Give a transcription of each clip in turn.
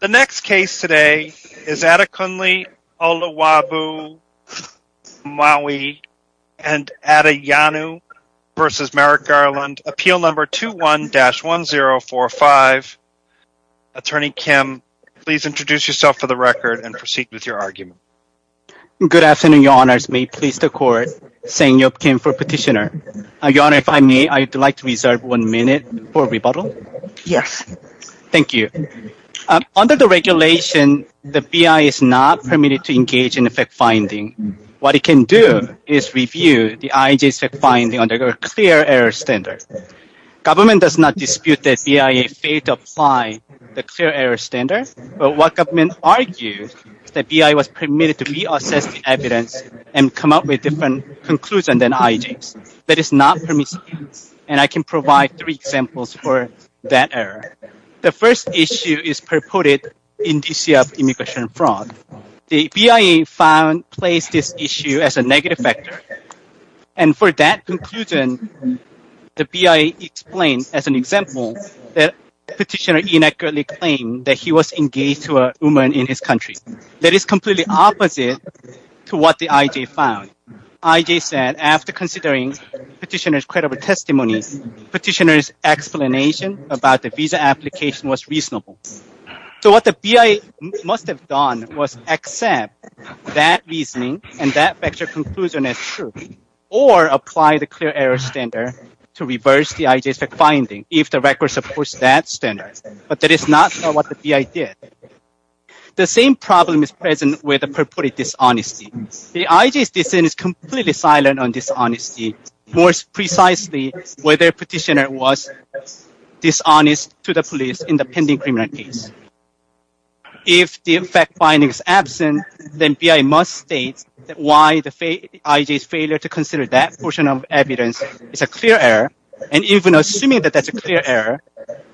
The next case today is Adekunle Oluwabu Maui and Adeyanju v. Merrick Garland, Appeal No. 21-1045. Attorney Kim, please introduce yourself for the record and proceed with your argument. Good afternoon, Your Honors. May it please the Court, Seng Yeop Kim for Petitioner. Your Honor, if I may, I'd like to reserve one minute for rebuttal. Yes. Thank you. Under the regulation, the BIA is not permitted to engage in fact-finding. What it can do is review the IJ's fact-finding under a clear error standard. Government does not dispute that BIA failed to apply the clear error standard, but what government argues is that BIA was permitted to re-assess the evidence and come up with different conclusions than IJ's. That is not permissible, and I can provide three examples for that error. The first issue is purported indicia of immigration fraud. The BIA found placed this issue as a negative factor, and for that conclusion, the BIA explained as an example that petitioner inaccurately claimed that he was engaged to a woman in his country. That is completely opposite to what the IJ found. IJ said after considering petitioner's credible testimony, petitioner's explanation about the visa application was reasonable. So what the BIA must have done was accept that reasoning and that factual conclusion as true or apply the clear error standard to reverse the IJ's fact-finding if the record supports that standard, but that is not what the BIA did. The same problem is present with the purported dishonesty. The IJ's decision is completely silent on dishonesty, more precisely whether petitioner was dishonest to the police in the pending criminal case. If the fact-finding is absent, then BIA must state why the IJ's failure to consider that portion of evidence is a clear error, and even assuming that that's a clear error,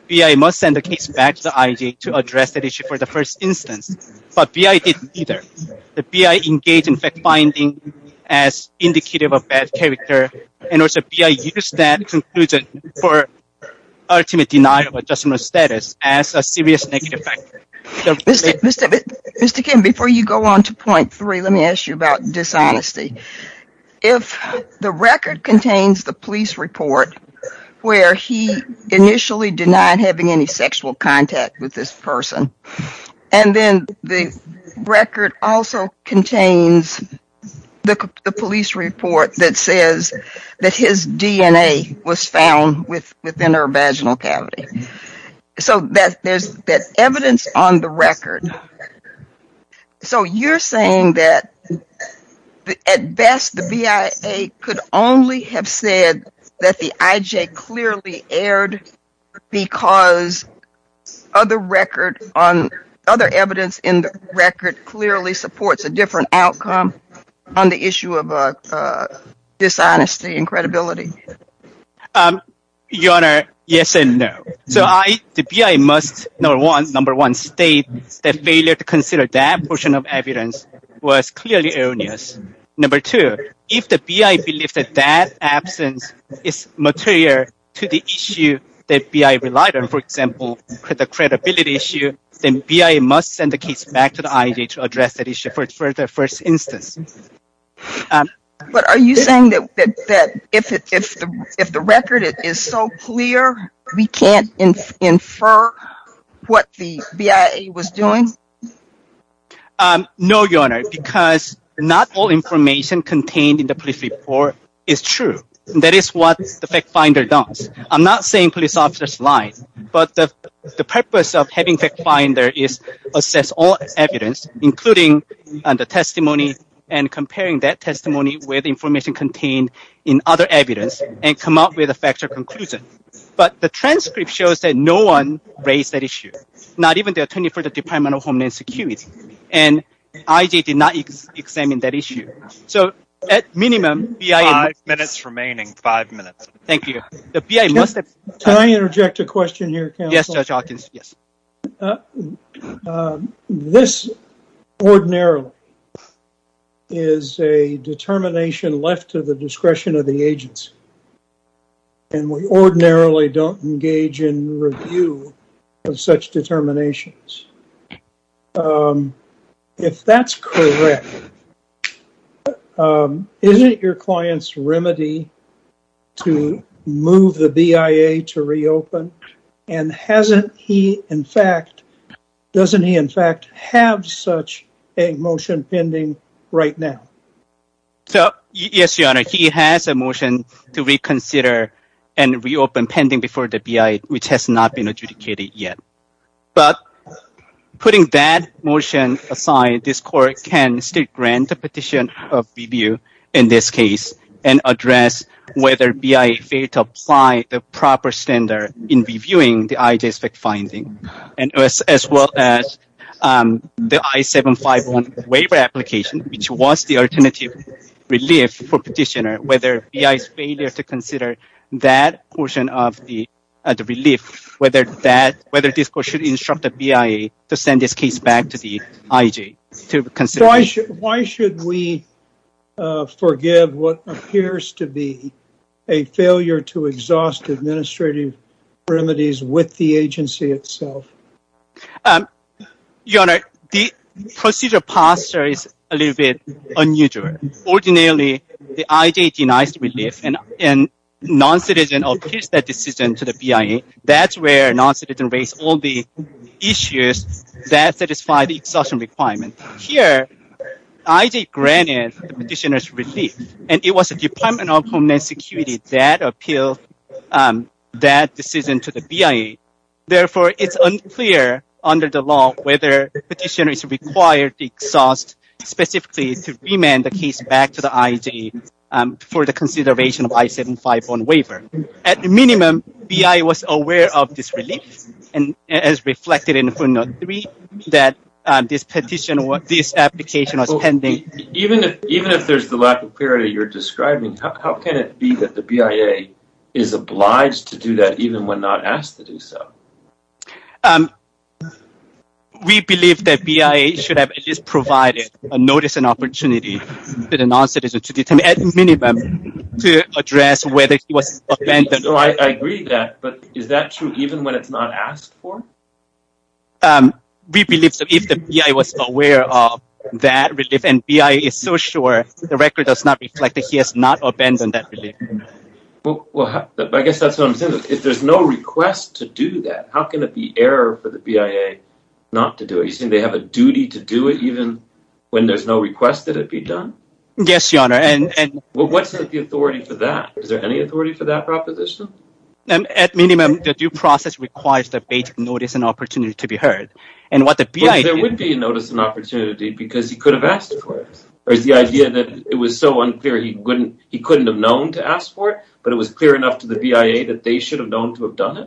BIA must send the case back to the IJ to address that issue for the first instance, but BIA didn't either. The BIA engaged in fact-finding as indicative of bad character, and also BIA used that conclusion for ultimate denial of a justice status as a serious negative factor. Mr. Kim, before you go on to point three, let me ask you about dishonesty. If the record contains the police report where he initially denied having any sexual contact with this person and then the record also contains the police report that says that his DNA was found within her vaginal cavity, so there's that evidence on the record, so you're saying that at best the BIA could only have said that the IJ clearly erred because other evidence in the record clearly supports a different outcome on the issue of dishonesty and credibility? Your Honor, yes and no. So the BIA must, number one, state that failure to consider that portion of evidence was clearly erroneous. Number two, if the BIA believes that that absence is material to the issue that BIA relied on, for example, the credibility issue, then BIA must send the case back to the IJ to address that issue for the first instance. But are you saying that if the record is so clear, we can't infer what the BIA was doing? No, Your Honor, because not all information contained in the police report is true. That is what the FactFinder does. I'm not saying police officers lied, but the purpose of having FactFinder is to assess all evidence, including the testimony and comparing that testimony with information contained in other evidence and come up with a factual conclusion. But the transcript shows that no one raised that issue, not even the Attorney for the Department of Homeland Security, and IJ did not examine that issue. So at minimum, BIA must... Five minutes remaining, five minutes. Thank you. Can I interject a question here, counsel? Yes, Judge Hawkins, yes. This ordinarily is a determination left to the discretion of the agency, and we ordinarily don't engage in review of such determinations. If that's correct, isn't it your client's remedy to move the BIA to reopen? And hasn't he, in fact... Doesn't he, in fact, have such a motion pending right now? Yes, Your Honor, he has a motion to reconsider and reopen pending before the BIA, which has not been adjudicated yet. But putting that motion aside, this court can still grant a petition of review in this case and address whether BIA failed to apply the proper standard in reviewing the IJ's fact-finding, as well as the I-751 waiver application, which was the alternative relief for petitioner, whether BIA's failure to consider that portion of the relief, whether this court should instruct the BIA to send this case back to the IJ to consider... Why should we forgive what appears to be a failure to exhaust administrative remedies with the agency itself? Your Honor, the procedure posture is a little bit unusual. Ordinarily, the IJ denies relief, and non-citizen appeals that decision to the BIA. That's where non-citizens raise all the issues that satisfy the exhaustion requirement. Here, IJ granted the petitioner's relief, and it was the Department of Homeland Security that appealed that decision to the BIA. Therefore, it's unclear under the law whether petitioner is required to exhaust, specifically to remand the case back to the IJ for the consideration of I-751 waiver. At minimum, BIA was aware of this relief, as reflected in footnote 3, that this application was pending. Even if there's the lack of clarity you're describing, how can it be that the BIA is obliged to do that even when not asked to do so? We believe that BIA should have at least provided a notice and opportunity to the non-citizen to determine, at minimum, to address whether he was abandoned. I agree with that, but is that true even when it's not asked for? We believe that if the BIA was aware of that relief, and BIA is so sure, the record does not reflect that he has not abandoned that relief. I guess that's what I'm saying. If there's no request to do that, how can it be error for the BIA not to do it? You're saying they have a duty to do it even when there's no request that it be done? Yes, Your Honor. What's the authority for that? Is there any authority for that proposition? At minimum, the due process requires the basic notice and opportunity to be heard. But there would be a notice and opportunity because he could have asked for it. Or is the idea that it was so unclear he couldn't have known to ask for it, but it was clear enough to the BIA that they should have known to have done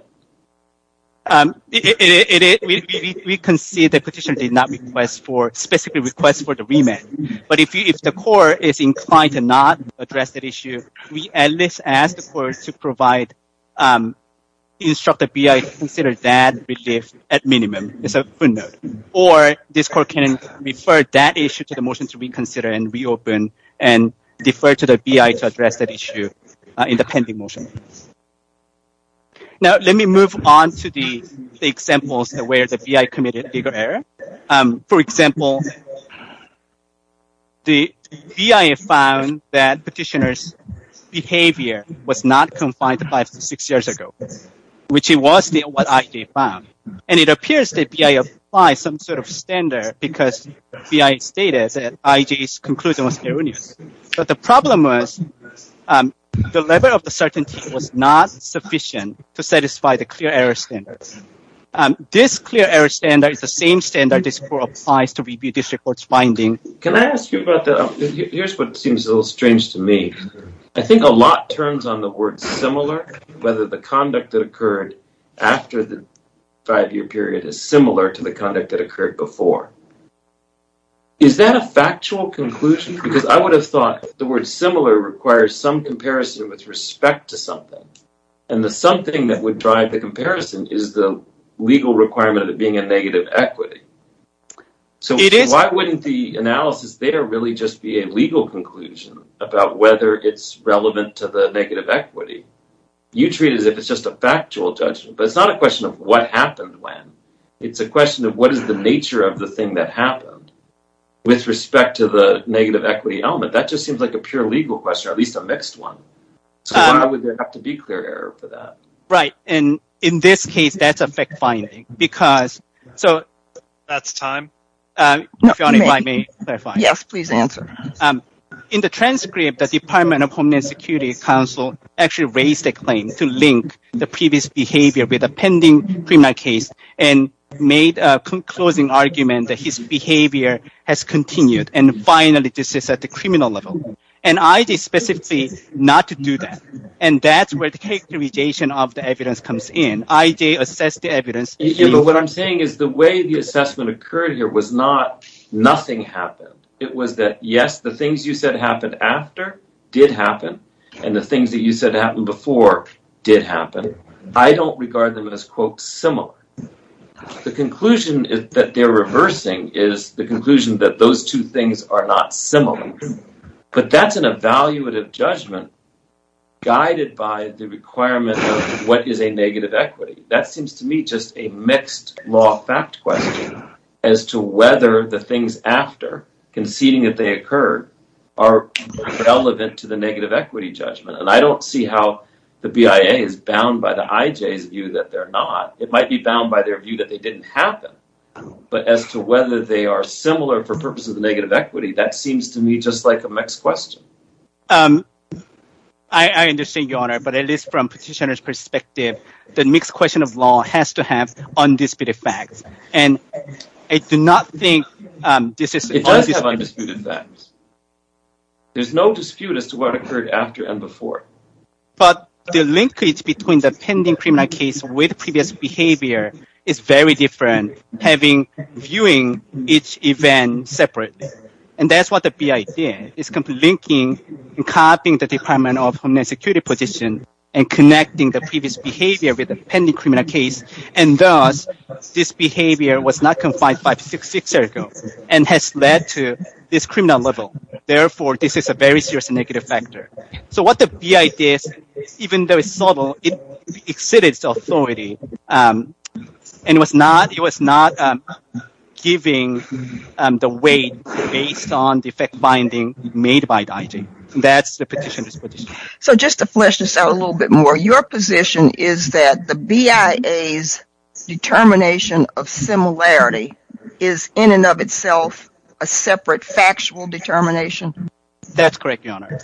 it? We concede the petitioner did not specifically request for the remand. But if the court is inclined to not address that issue, we at least ask the court to instruct the BIA to consider that relief at minimum. It's a footnote. Or this court can refer that issue to the motion to reconsider and reopen and defer to the BIA to address that issue in the pending motion. Now, let me move on to the examples where the BIA committed legal error. For example, the BIA found that petitioner's behavior was not confined to five to six years ago, which was what IJ found. And it appears that BIA applied some sort of standard because BIA stated that IJ's conclusion was erroneous. But the problem was the level of the certainty was not sufficient to satisfy the clear error standards. This clear error standard is the same standard this court applies to review this report's finding. Can I ask you about that? Here's what seems a little strange to me. I think a lot turns on the word similar, whether the conduct that occurred after the five-year period is similar to the conduct that occurred before. Is that a factual conclusion? Because I would have thought the word similar requires some comparison with respect to something. And the something that would drive the comparison is the legal requirement of it being a negative equity. So why wouldn't the analysis there really just be a legal conclusion about whether it's relevant to the negative equity? You treat it as if it's just a factual judgment. But it's not a question of what happened when. It's a question of what is the nature of the thing that happened with respect to the negative equity element. That just seems like a pure legal question, or at least a mixed one. So why would there have to be clear error for that? Right. And in this case, that's a fact-finding. That's time. If you want to clarify. Yes, please answer. In the transcript, the Department of Homeland Security Council actually raised a claim to link the previous behavior with a pending criminal case and made a closing argument that his behavior has continued. And finally, this is at the criminal level. And I did specifically not do that. And that's where the characterization of the evidence comes in. I did assess the evidence. But what I'm saying is the way the assessment occurred here was not nothing happened. It was that, yes, the things you said happened after did happen, and the things that you said happened before did happen. I don't regard them as, quote, similar. The conclusion that they're reversing is the conclusion that those two things are not similar. But that's an evaluative judgment guided by the requirement of what is a negative equity. That seems to me just a mixed law fact question as to whether the things after, conceding that they occurred, are relevant to the negative equity judgment. And I don't see how the BIA is bound by the IJ's view that they're not. It might be bound by their view that they didn't happen. But as to whether they are similar for purposes of negative equity, that seems to me just like a mixed question. I understand, Your Honor, but at least from petitioner's perspective, the mixed question of law has to have undisputed facts. And I do not think this is— It does have undisputed facts. There's no dispute as to what occurred after and before. But the linkage between the pending criminal case with previous behavior is very different, having—viewing each event separately. And that's what the BIA did, is linking and copying the Department of Homeland Security position and connecting the previous behavior with the pending criminal case. And thus, this behavior was not confined five, six years ago and has led to this criminal level. Therefore, this is a very serious negative factor. So what the BIA did, even though it's subtle, it exceeded its authority. And it was not giving the weight based on the fact-finding made by the IJ. That's the petitioner's position. So just to flesh this out a little bit more, your position is that the BIA's determination of similarity is in and of itself a separate factual determination? That's correct, Your Honor.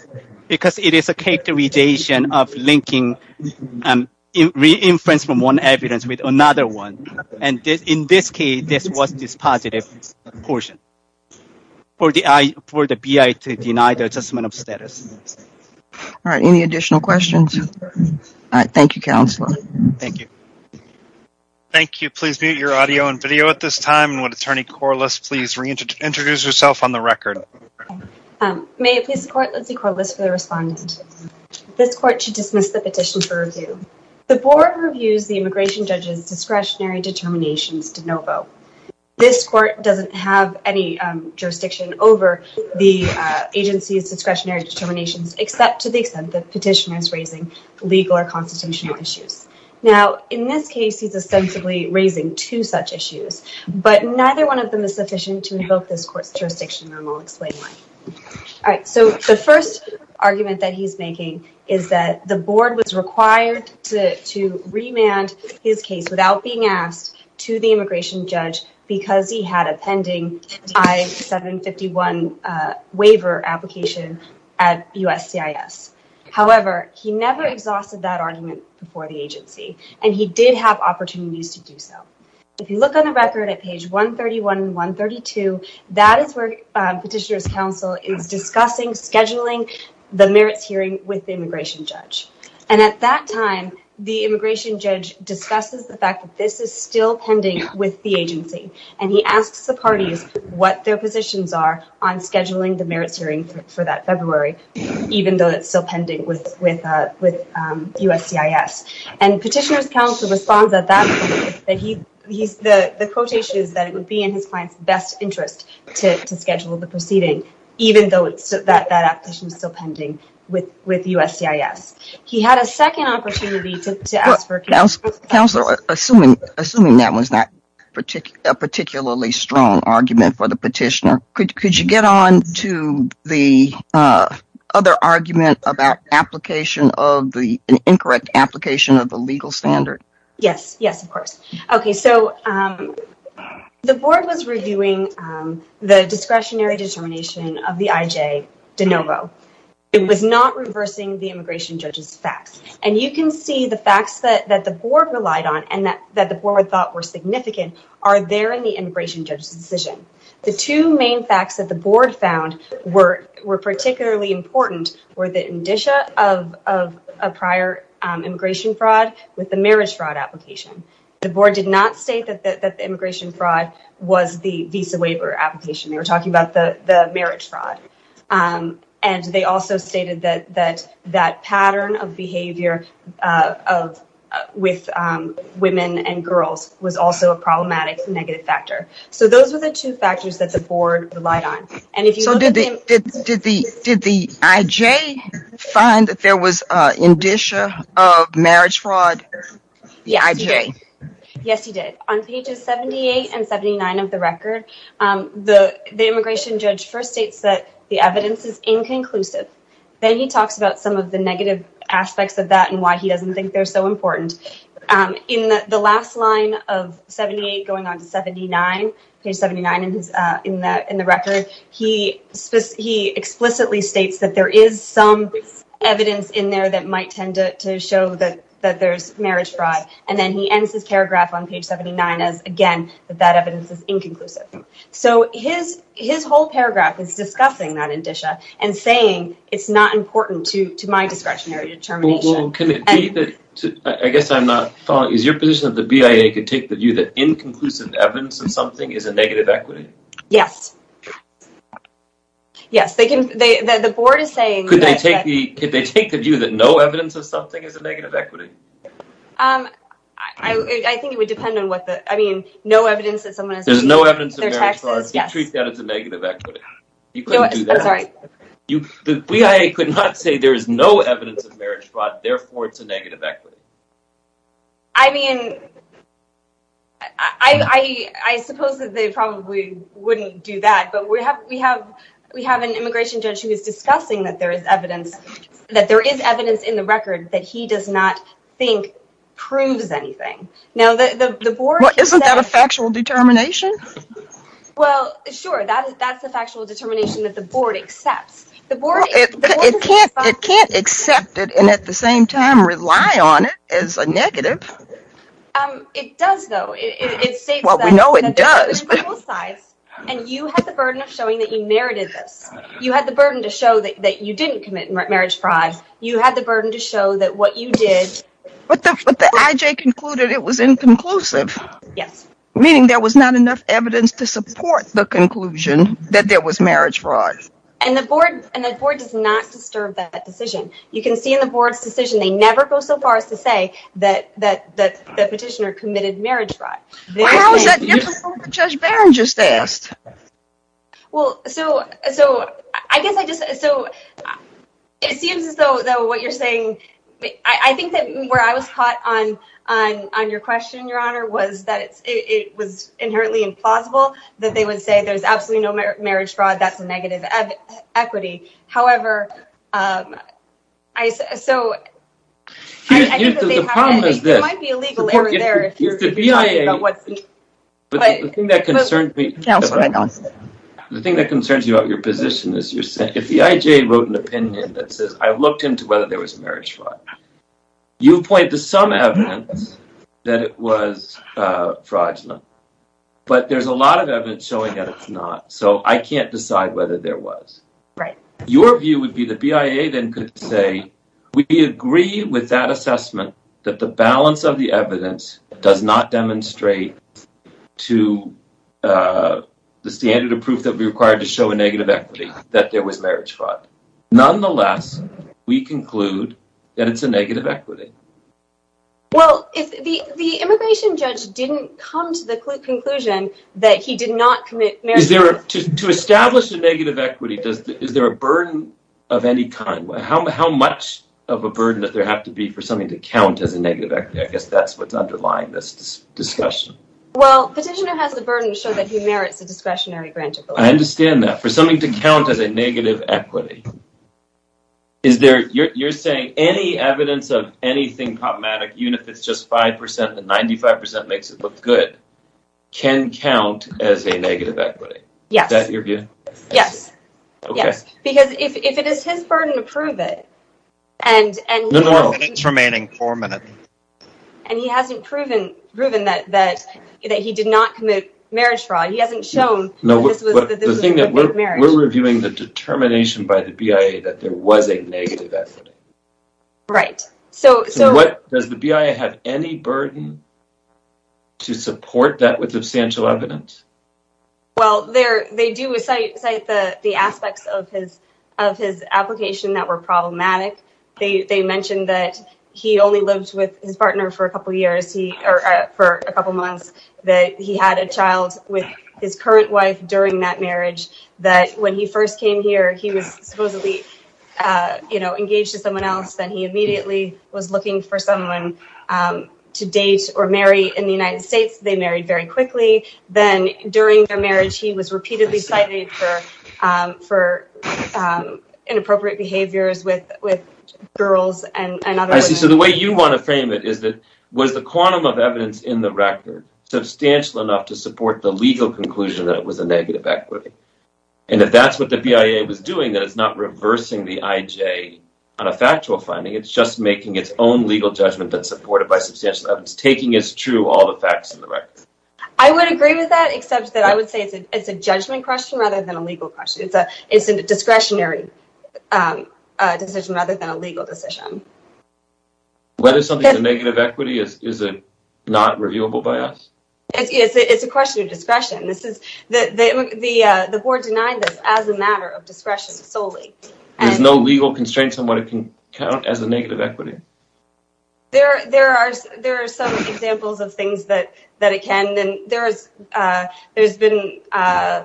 Because it is a characterization of linking and re-inference from one evidence with another one. And in this case, this was this positive portion for the BIA to deny the adjustment of status. All right. Any additional questions? All right. Thank you, Counselor. Thank you. Thank you. Please mute your audio and video at this time. And would Attorney Corliss please reintroduce herself on the record? May it please the Court, Lizzie Corliss for the respondent. This court should dismiss the petition for review. The board reviews the immigration judge's discretionary determinations to no vote. This court doesn't have any jurisdiction over the agency's discretionary determinations, except to the extent that the petitioner is raising legal or constitutional issues. Now, in this case, he's ostensibly raising two such issues, but neither one of them is sufficient to revoke this court's jurisdiction, and I'll explain why. All right. So the first argument that he's making is that the board was required to remand his case without being asked to the immigration judge because he had a pending I-751 waiver application at USCIS. However, he never exhausted that argument before the agency, and he did have opportunities to do so. If you look on the record at page 131 and 132, that is where Petitioner's Counsel is discussing scheduling the merits hearing with the immigration judge. And at that time, the immigration judge discusses the fact that this is still pending with the agency, and he asks the parties what their positions are on scheduling the merits hearing for that February, even though it's still pending with USCIS. And Petitioner's Counsel responds at that point that the quotation is that it would be in his client's best interest to schedule the proceeding, even though that application is still pending with USCIS. He had a second opportunity to ask for counsel. Counselor, assuming that was not a particularly strong argument for the petitioner, could you get on to the other argument about an incorrect application of the legal standard? Yes, yes, of course. Okay, so the board was reviewing the discretionary determination of the IJ de novo. It was not reversing the immigration judge's facts, and you can see the facts that the board relied on and that the board thought were significant are there in the immigration judge's decision. The two main facts that the board found were particularly important were the indicia of a prior immigration fraud with the merits fraud application. The board did not state that the immigration fraud was the visa waiver application. They were talking about the merits fraud. And they also stated that that pattern of behavior with women and girls was also a problematic negative factor. So those were the two factors that the board relied on. So did the IJ find that there was indicia of marriage fraud? Yes, he did. On pages 78 and 79 of the record, the immigration judge first states that the evidence is inconclusive. Then he talks about some of the negative aspects of that and why he doesn't think they're so important. In the last line of 78 going on to 79, page 79 in the record, he explicitly states that there is some evidence in there that might tend to show that there's marriage fraud. And then he ends his paragraph on page 79 as, again, that that evidence is inconclusive. So his whole paragraph is discussing that indicia and saying it's not important to my discretionary determination. Well, can it be that – I guess I'm not following. Is your position that the BIA could take the view that inconclusive evidence of something is a negative equity? Yes. Yes, they can – the board is saying that – Could they take the view that no evidence of something is a negative equity? I think it would depend on what the – I mean, no evidence that someone is – There's no evidence of marriage fraud. You couldn't do that. I'm sorry. The BIA could not say there is no evidence of marriage fraud, therefore it's a negative equity. I mean, I suppose that they probably wouldn't do that. But we have an immigration judge who is discussing that there is evidence in the record that he does not think proves anything. Now, the board – Well, isn't that a factual determination? Well, sure, that's a factual determination that the board accepts. It can't accept it and at the same time rely on it as a negative. It does, though. It states that – Well, we know it does. And you have the burden of showing that you narrated this. You had the burden to show that you didn't commit marriage fraud. You had the burden to show that what you did – But the IJ concluded it was inconclusive. Yes. Meaning there was not enough evidence to support the conclusion that there was marriage fraud. And the board does not disturb that decision. You can see in the board's decision they never go so far as to say that the petitioner committed marriage fraud. Well, how is that different from what Judge Barron just asked? Well, so I guess I just – So it seems as though what you're saying – I think that where I was caught on your question, Your Honor, was that it was inherently implausible that they would say there's absolutely no marriage fraud. That's negative equity. However, I – So I think that they have – The problem is this – It might be illegal over there if you're – The BIA – But – The thing that concerns me – Counselor, may I answer that? The thing that concerns you about your position is you're saying – The BIA wrote an opinion that says, I looked into whether there was marriage fraud. You point to some evidence that it was fraudulent. But there's a lot of evidence showing that it's not. So I can't decide whether there was. Right. Your view would be the BIA then could say, we agree with that assessment that the balance of the evidence does not demonstrate to the standard of proof that we require to show a negative equity that there was marriage fraud. Nonetheless, we conclude that it's a negative equity. Well, the immigration judge didn't come to the conclusion that he did not commit marriage fraud. To establish a negative equity, is there a burden of any kind? How much of a burden does there have to be for something to count as a negative equity? I guess that's what's underlying this discussion. Well, the petitioner has the burden to show that he merits a discretionary grant. I understand that. For something to count as a negative equity, is there – You're saying any evidence of anything problematic, even if it's just 5% and 95% makes it look good, can count as a negative equity. Yes. Is that your view? Yes. Okay. Because if it is his burden to prove it, and he hasn't proven that he did not commit marriage fraud, he hasn't shown that this was a negative marriage. We're reviewing the determination by the BIA that there was a negative equity. Right. Does the BIA have any burden to support that with substantial evidence? Well, they do cite the aspects of his application that were problematic. They mentioned that he only lived with his partner for a couple months, that he had a child with his current wife during that marriage, that when he first came here, he was supposedly engaged to someone else, then he immediately was looking for someone to date or marry in the United States. They married very quickly. Then during their marriage, he was repeatedly cited for inappropriate behaviors with girls and other women. I see. So the way you want to frame it is that was the quantum of evidence in the record substantial enough to support the legal conclusion that it was a negative equity? And if that's what the BIA was doing, then it's not reversing the IJ on a factual finding. It's just making its own legal judgment that's supported by substantial evidence, taking as true all the facts in the record. I would agree with that, except that I would say it's a judgment question rather than a legal question. It's a discretionary decision rather than a legal decision. Whether something's a negative equity is not reviewable by us? It's a question of discretion. The board denied this as a matter of discretion solely. There's no legal constraints on what it can count as a negative equity? There are some examples of things that it can. There's been a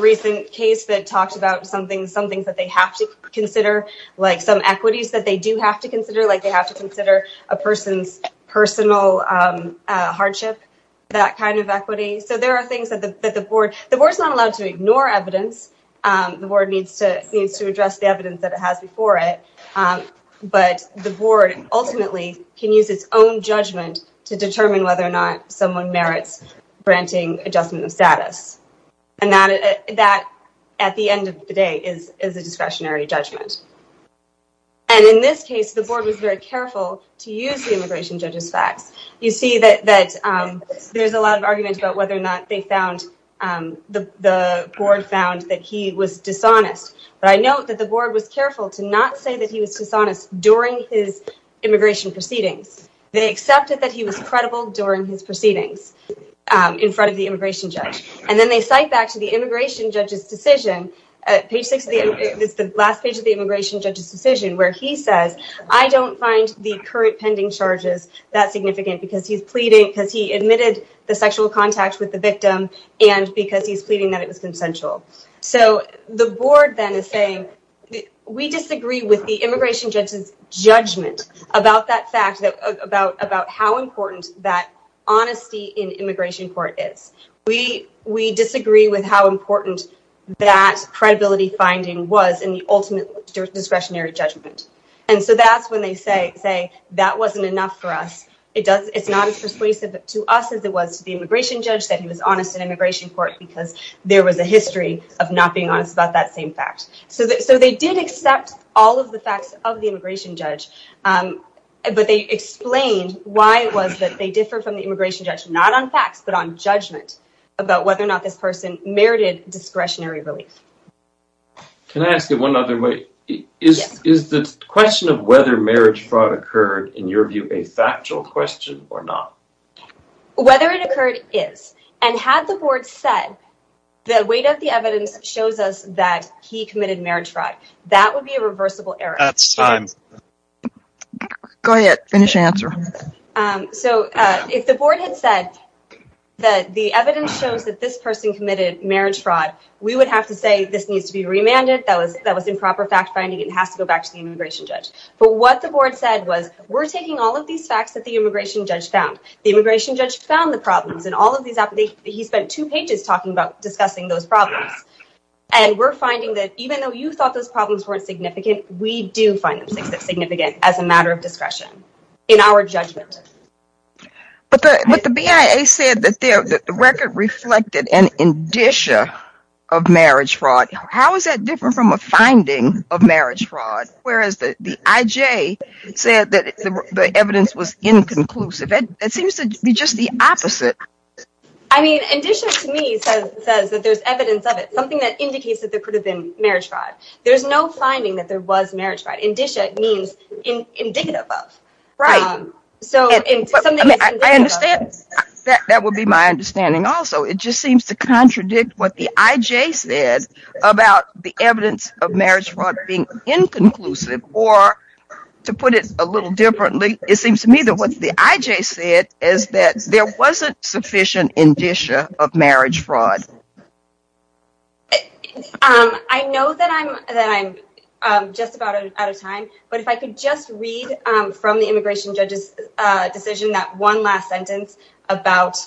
recent case that talked about some things that they have to consider, like some equities that they do have to consider. They have to consider a person's personal hardship, that kind of equity. So there are things that the board—the board's not allowed to ignore evidence. The board needs to address the evidence that it has before it. But the board ultimately can use its own judgment to determine whether or not someone merits granting adjustment of status. And that, at the end of the day, is a discretionary judgment. And in this case, the board was very careful to use the immigration judge's facts. You see that there's a lot of argument about whether or not they found—the board found that he was dishonest. But I note that the board was careful to not say that he was dishonest during his immigration proceedings. They accepted that he was credible during his proceedings in front of the immigration judge. And then they cite back to the immigration judge's decision—page 6 of the—it's the last page of the immigration judge's decision— where he says, I don't find the current pending charges that significant because he's pleading— because he admitted the sexual contact with the victim and because he's pleading that it was consensual. So the board then is saying, we disagree with the immigration judge's judgment about that fact— about how important that honesty in immigration court is. We disagree with how important that credibility finding was in the ultimate discretionary judgment. And so that's when they say, that wasn't enough for us. It's not as persuasive to us as it was to the immigration judge that he was honest in immigration court because there was a history of not being honest about that same fact. So they did accept all of the facts of the immigration judge, but they explained why it was that they differed from the immigration judge not on facts but on judgment about whether or not this person merited discretionary relief. Can I ask it one other way? Yes. Is the question of whether marriage fraud occurred, in your view, a factual question or not? Whether it occurred is. And had the board said, the weight of the evidence shows us that he committed marriage fraud, that would be a reversible error. That's fine. Go ahead. Finish your answer. So if the board had said that the evidence shows that this person committed marriage fraud, we would have to say this needs to be remanded, that was improper fact-finding, it has to go back to the immigration judge. But what the board said was, we're taking all of these facts that the immigration judge found. The immigration judge found the problems in all of these applications. He spent two pages talking about discussing those problems. And we're finding that even though you thought those problems weren't significant, we do find them significant as a matter of discretion in our judgment. But the BIA said that the record reflected an indicia of marriage fraud. How is that different from a finding of marriage fraud? Whereas the IJ said that the evidence was inconclusive. It seems to be just the opposite. I mean, indicia to me says that there's evidence of it, something that indicates that there could have been marriage fraud. There's no finding that there was marriage fraud. Indicia means indicative of. Right. I understand. That would be my understanding also. It just seems to contradict what the IJ said about the evidence of marriage fraud being inconclusive. Or to put it a little differently, it seems to me that what the IJ said is that there wasn't sufficient indicia of marriage fraud. I know that I'm just about out of time. But if I could just read from the immigration judge's decision, that one last sentence about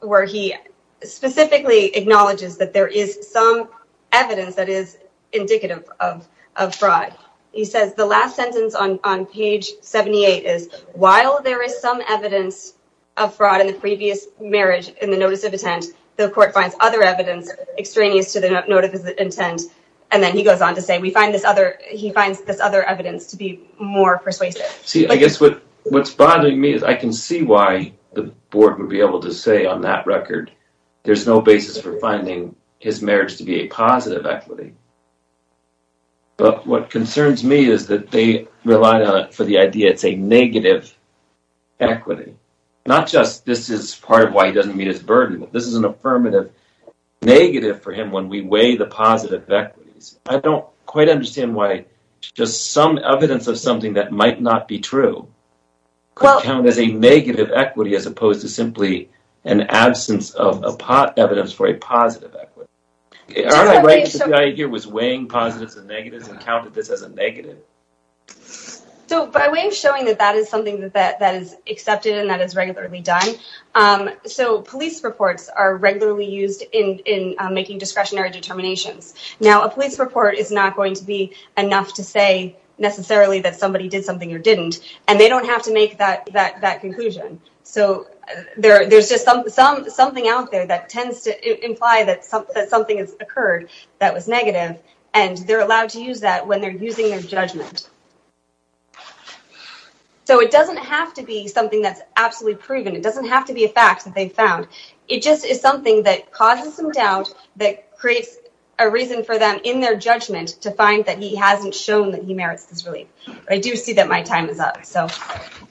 where he specifically acknowledges that there is some evidence that is indicative of fraud. He says the last sentence on page 78 is, while there is some evidence of fraud in the previous marriage in the notice of intent, the court finds other evidence extraneous to the notice of intent. And then he goes on to say he finds this other evidence to be more persuasive. See, I guess what's bothering me is I can see why the board would be able to say on that record there's no basis for finding his marriage to be a positive equity. But what concerns me is that they relied on it for the idea it's a negative equity. Not just this is part of why he doesn't meet his burden, this is an affirmative negative for him when we weigh the positive equities. I don't quite understand why just some evidence of something that might not be true could count as a negative equity as opposed to simply an absence of evidence for a positive equity. Aren't I right that the IJ here was weighing positives and negatives and counted this as a negative? So by way of showing that that is something that is accepted and that is regularly done, so police reports are regularly used in making discretionary determinations. Now, a police report is not going to be enough to say necessarily that somebody did something or didn't, and they don't have to make that conclusion. So there's just something out there that tends to imply that something has occurred that was negative, and they're allowed to use that when they're using their judgment. So it doesn't have to be something that's absolutely proven. It doesn't have to be a fact that they found. It just is something that causes some doubt that creates a reason for them in their judgment to find that he hasn't shown that he merits this relief. I do see that my time is up. So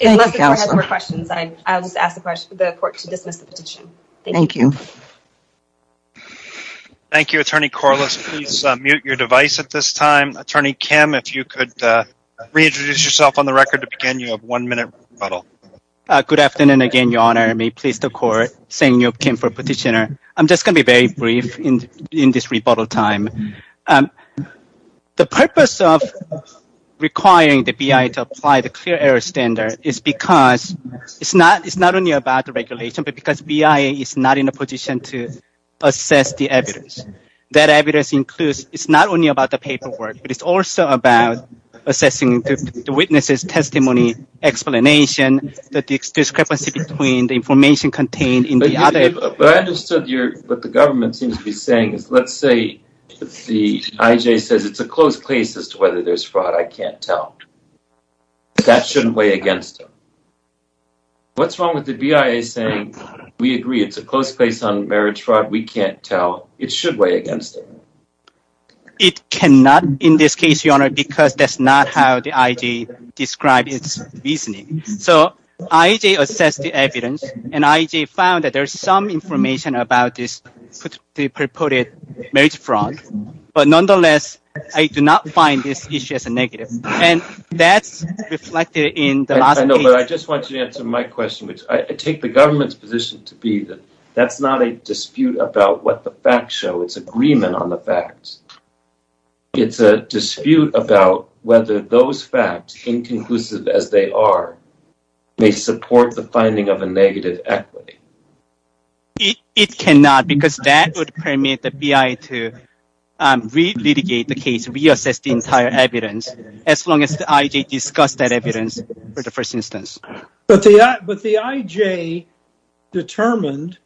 unless the court has more questions, I'll just ask the court to dismiss the petition. Thank you. Thank you, Attorney Corliss. Please mute your device at this time. Attorney Kim, if you could reintroduce yourself on the record to begin your one-minute rebuttal. Good afternoon again, Your Honor. May it please the court. Sang-Yup Kim for petitioner. I'm just going to be very brief in this rebuttal time. The purpose of requiring the BIA to apply the clear error standard is because it's not only about the regulation, but because BIA is not in a position to assess the evidence. That evidence includes it's not only about the paperwork, but it's also about assessing the witness's testimony explanation, the discrepancy between the information contained in the other. But I understood what the government seems to be saying is let's say the IJ says it's a close case as to whether there's fraud. I can't tell. That shouldn't weigh against them. What's wrong with the BIA saying we agree it's a close case on marriage fraud? We can't tell. It should weigh against them. It cannot in this case, Your Honor, because that's not how the IJ described its reasoning. So IJ assessed the evidence, and IJ found that there's some information about this purported marriage fraud. But nonetheless, I do not find this issue as a negative. And that's reflected in the last case. I know, but I just want you to answer my question. I take the government's position to be that that's not a dispute about what the facts show. It's agreement on the facts. It's a dispute about whether those facts, inconclusive as they are, may support the finding of a negative equity. It cannot, because that would permit the BIA to re-litigate the case, re-assess the entire evidence, as long as the IJ discussed that evidence for the first instance. But the IJ determined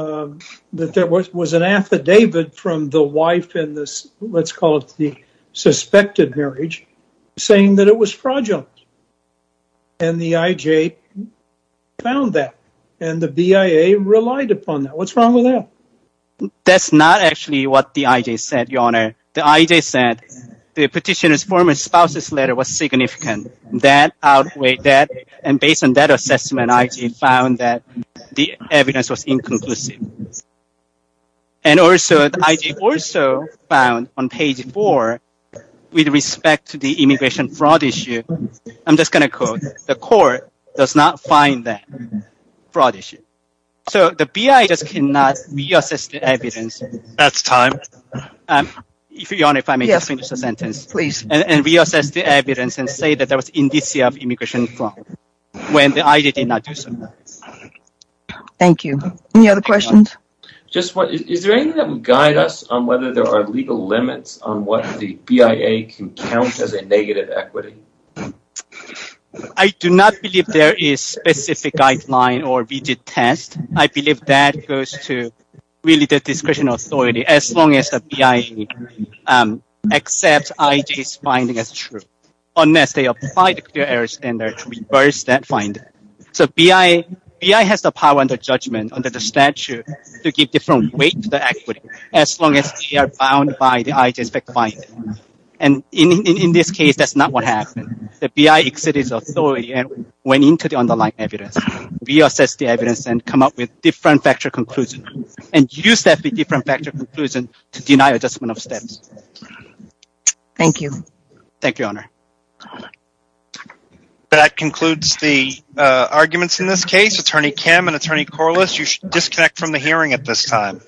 that there was an affidavit from the wife in this, let's call it the suspected marriage, saying that it was fraudulent. And the IJ found that, and the BIA relied upon that. What's wrong with that? That's not actually what the IJ said, Your Honor. The IJ said the petitioner's former spouse's letter was significant. That outweighed that, and based on that assessment, the IJ found that the evidence was inconclusive. And also, the IJ also found on page four, with respect to the immigration fraud issue, I'm just going to quote, the court does not find that fraud issue. So the BIA just cannot re-assess the evidence. That's time. Your Honor, if I may just finish the sentence. Yes, please. And re-assess the evidence and say that there was indicia of immigration fraud, when the IJ did not do so. Thank you. Any other questions? Just one. Is there anything that would guide us on whether there are legal limits on what the BIA can count as a negative equity? I do not believe there is specific guideline or rigid test. I believe that goes to really the discretion of authority, as long as the BIA accepts IJ's finding as true, unless they apply the clear error standard to reverse that finding. So BIA has the power under judgment, under the statute, to give different weight to the equity, as long as they are bound by the IJ's fact finding. And in this case, that's not what happened. The BIA exited its authority and went into the underlying evidence. Re-assess the evidence and come up with different factual conclusion. And use that different factual conclusion to deny adjustment of steps. Thank you. Thank you, Your Honor. That concludes the arguments in this case. Attorney Kim and Attorney Corliss, you should disconnect from the hearing at this time.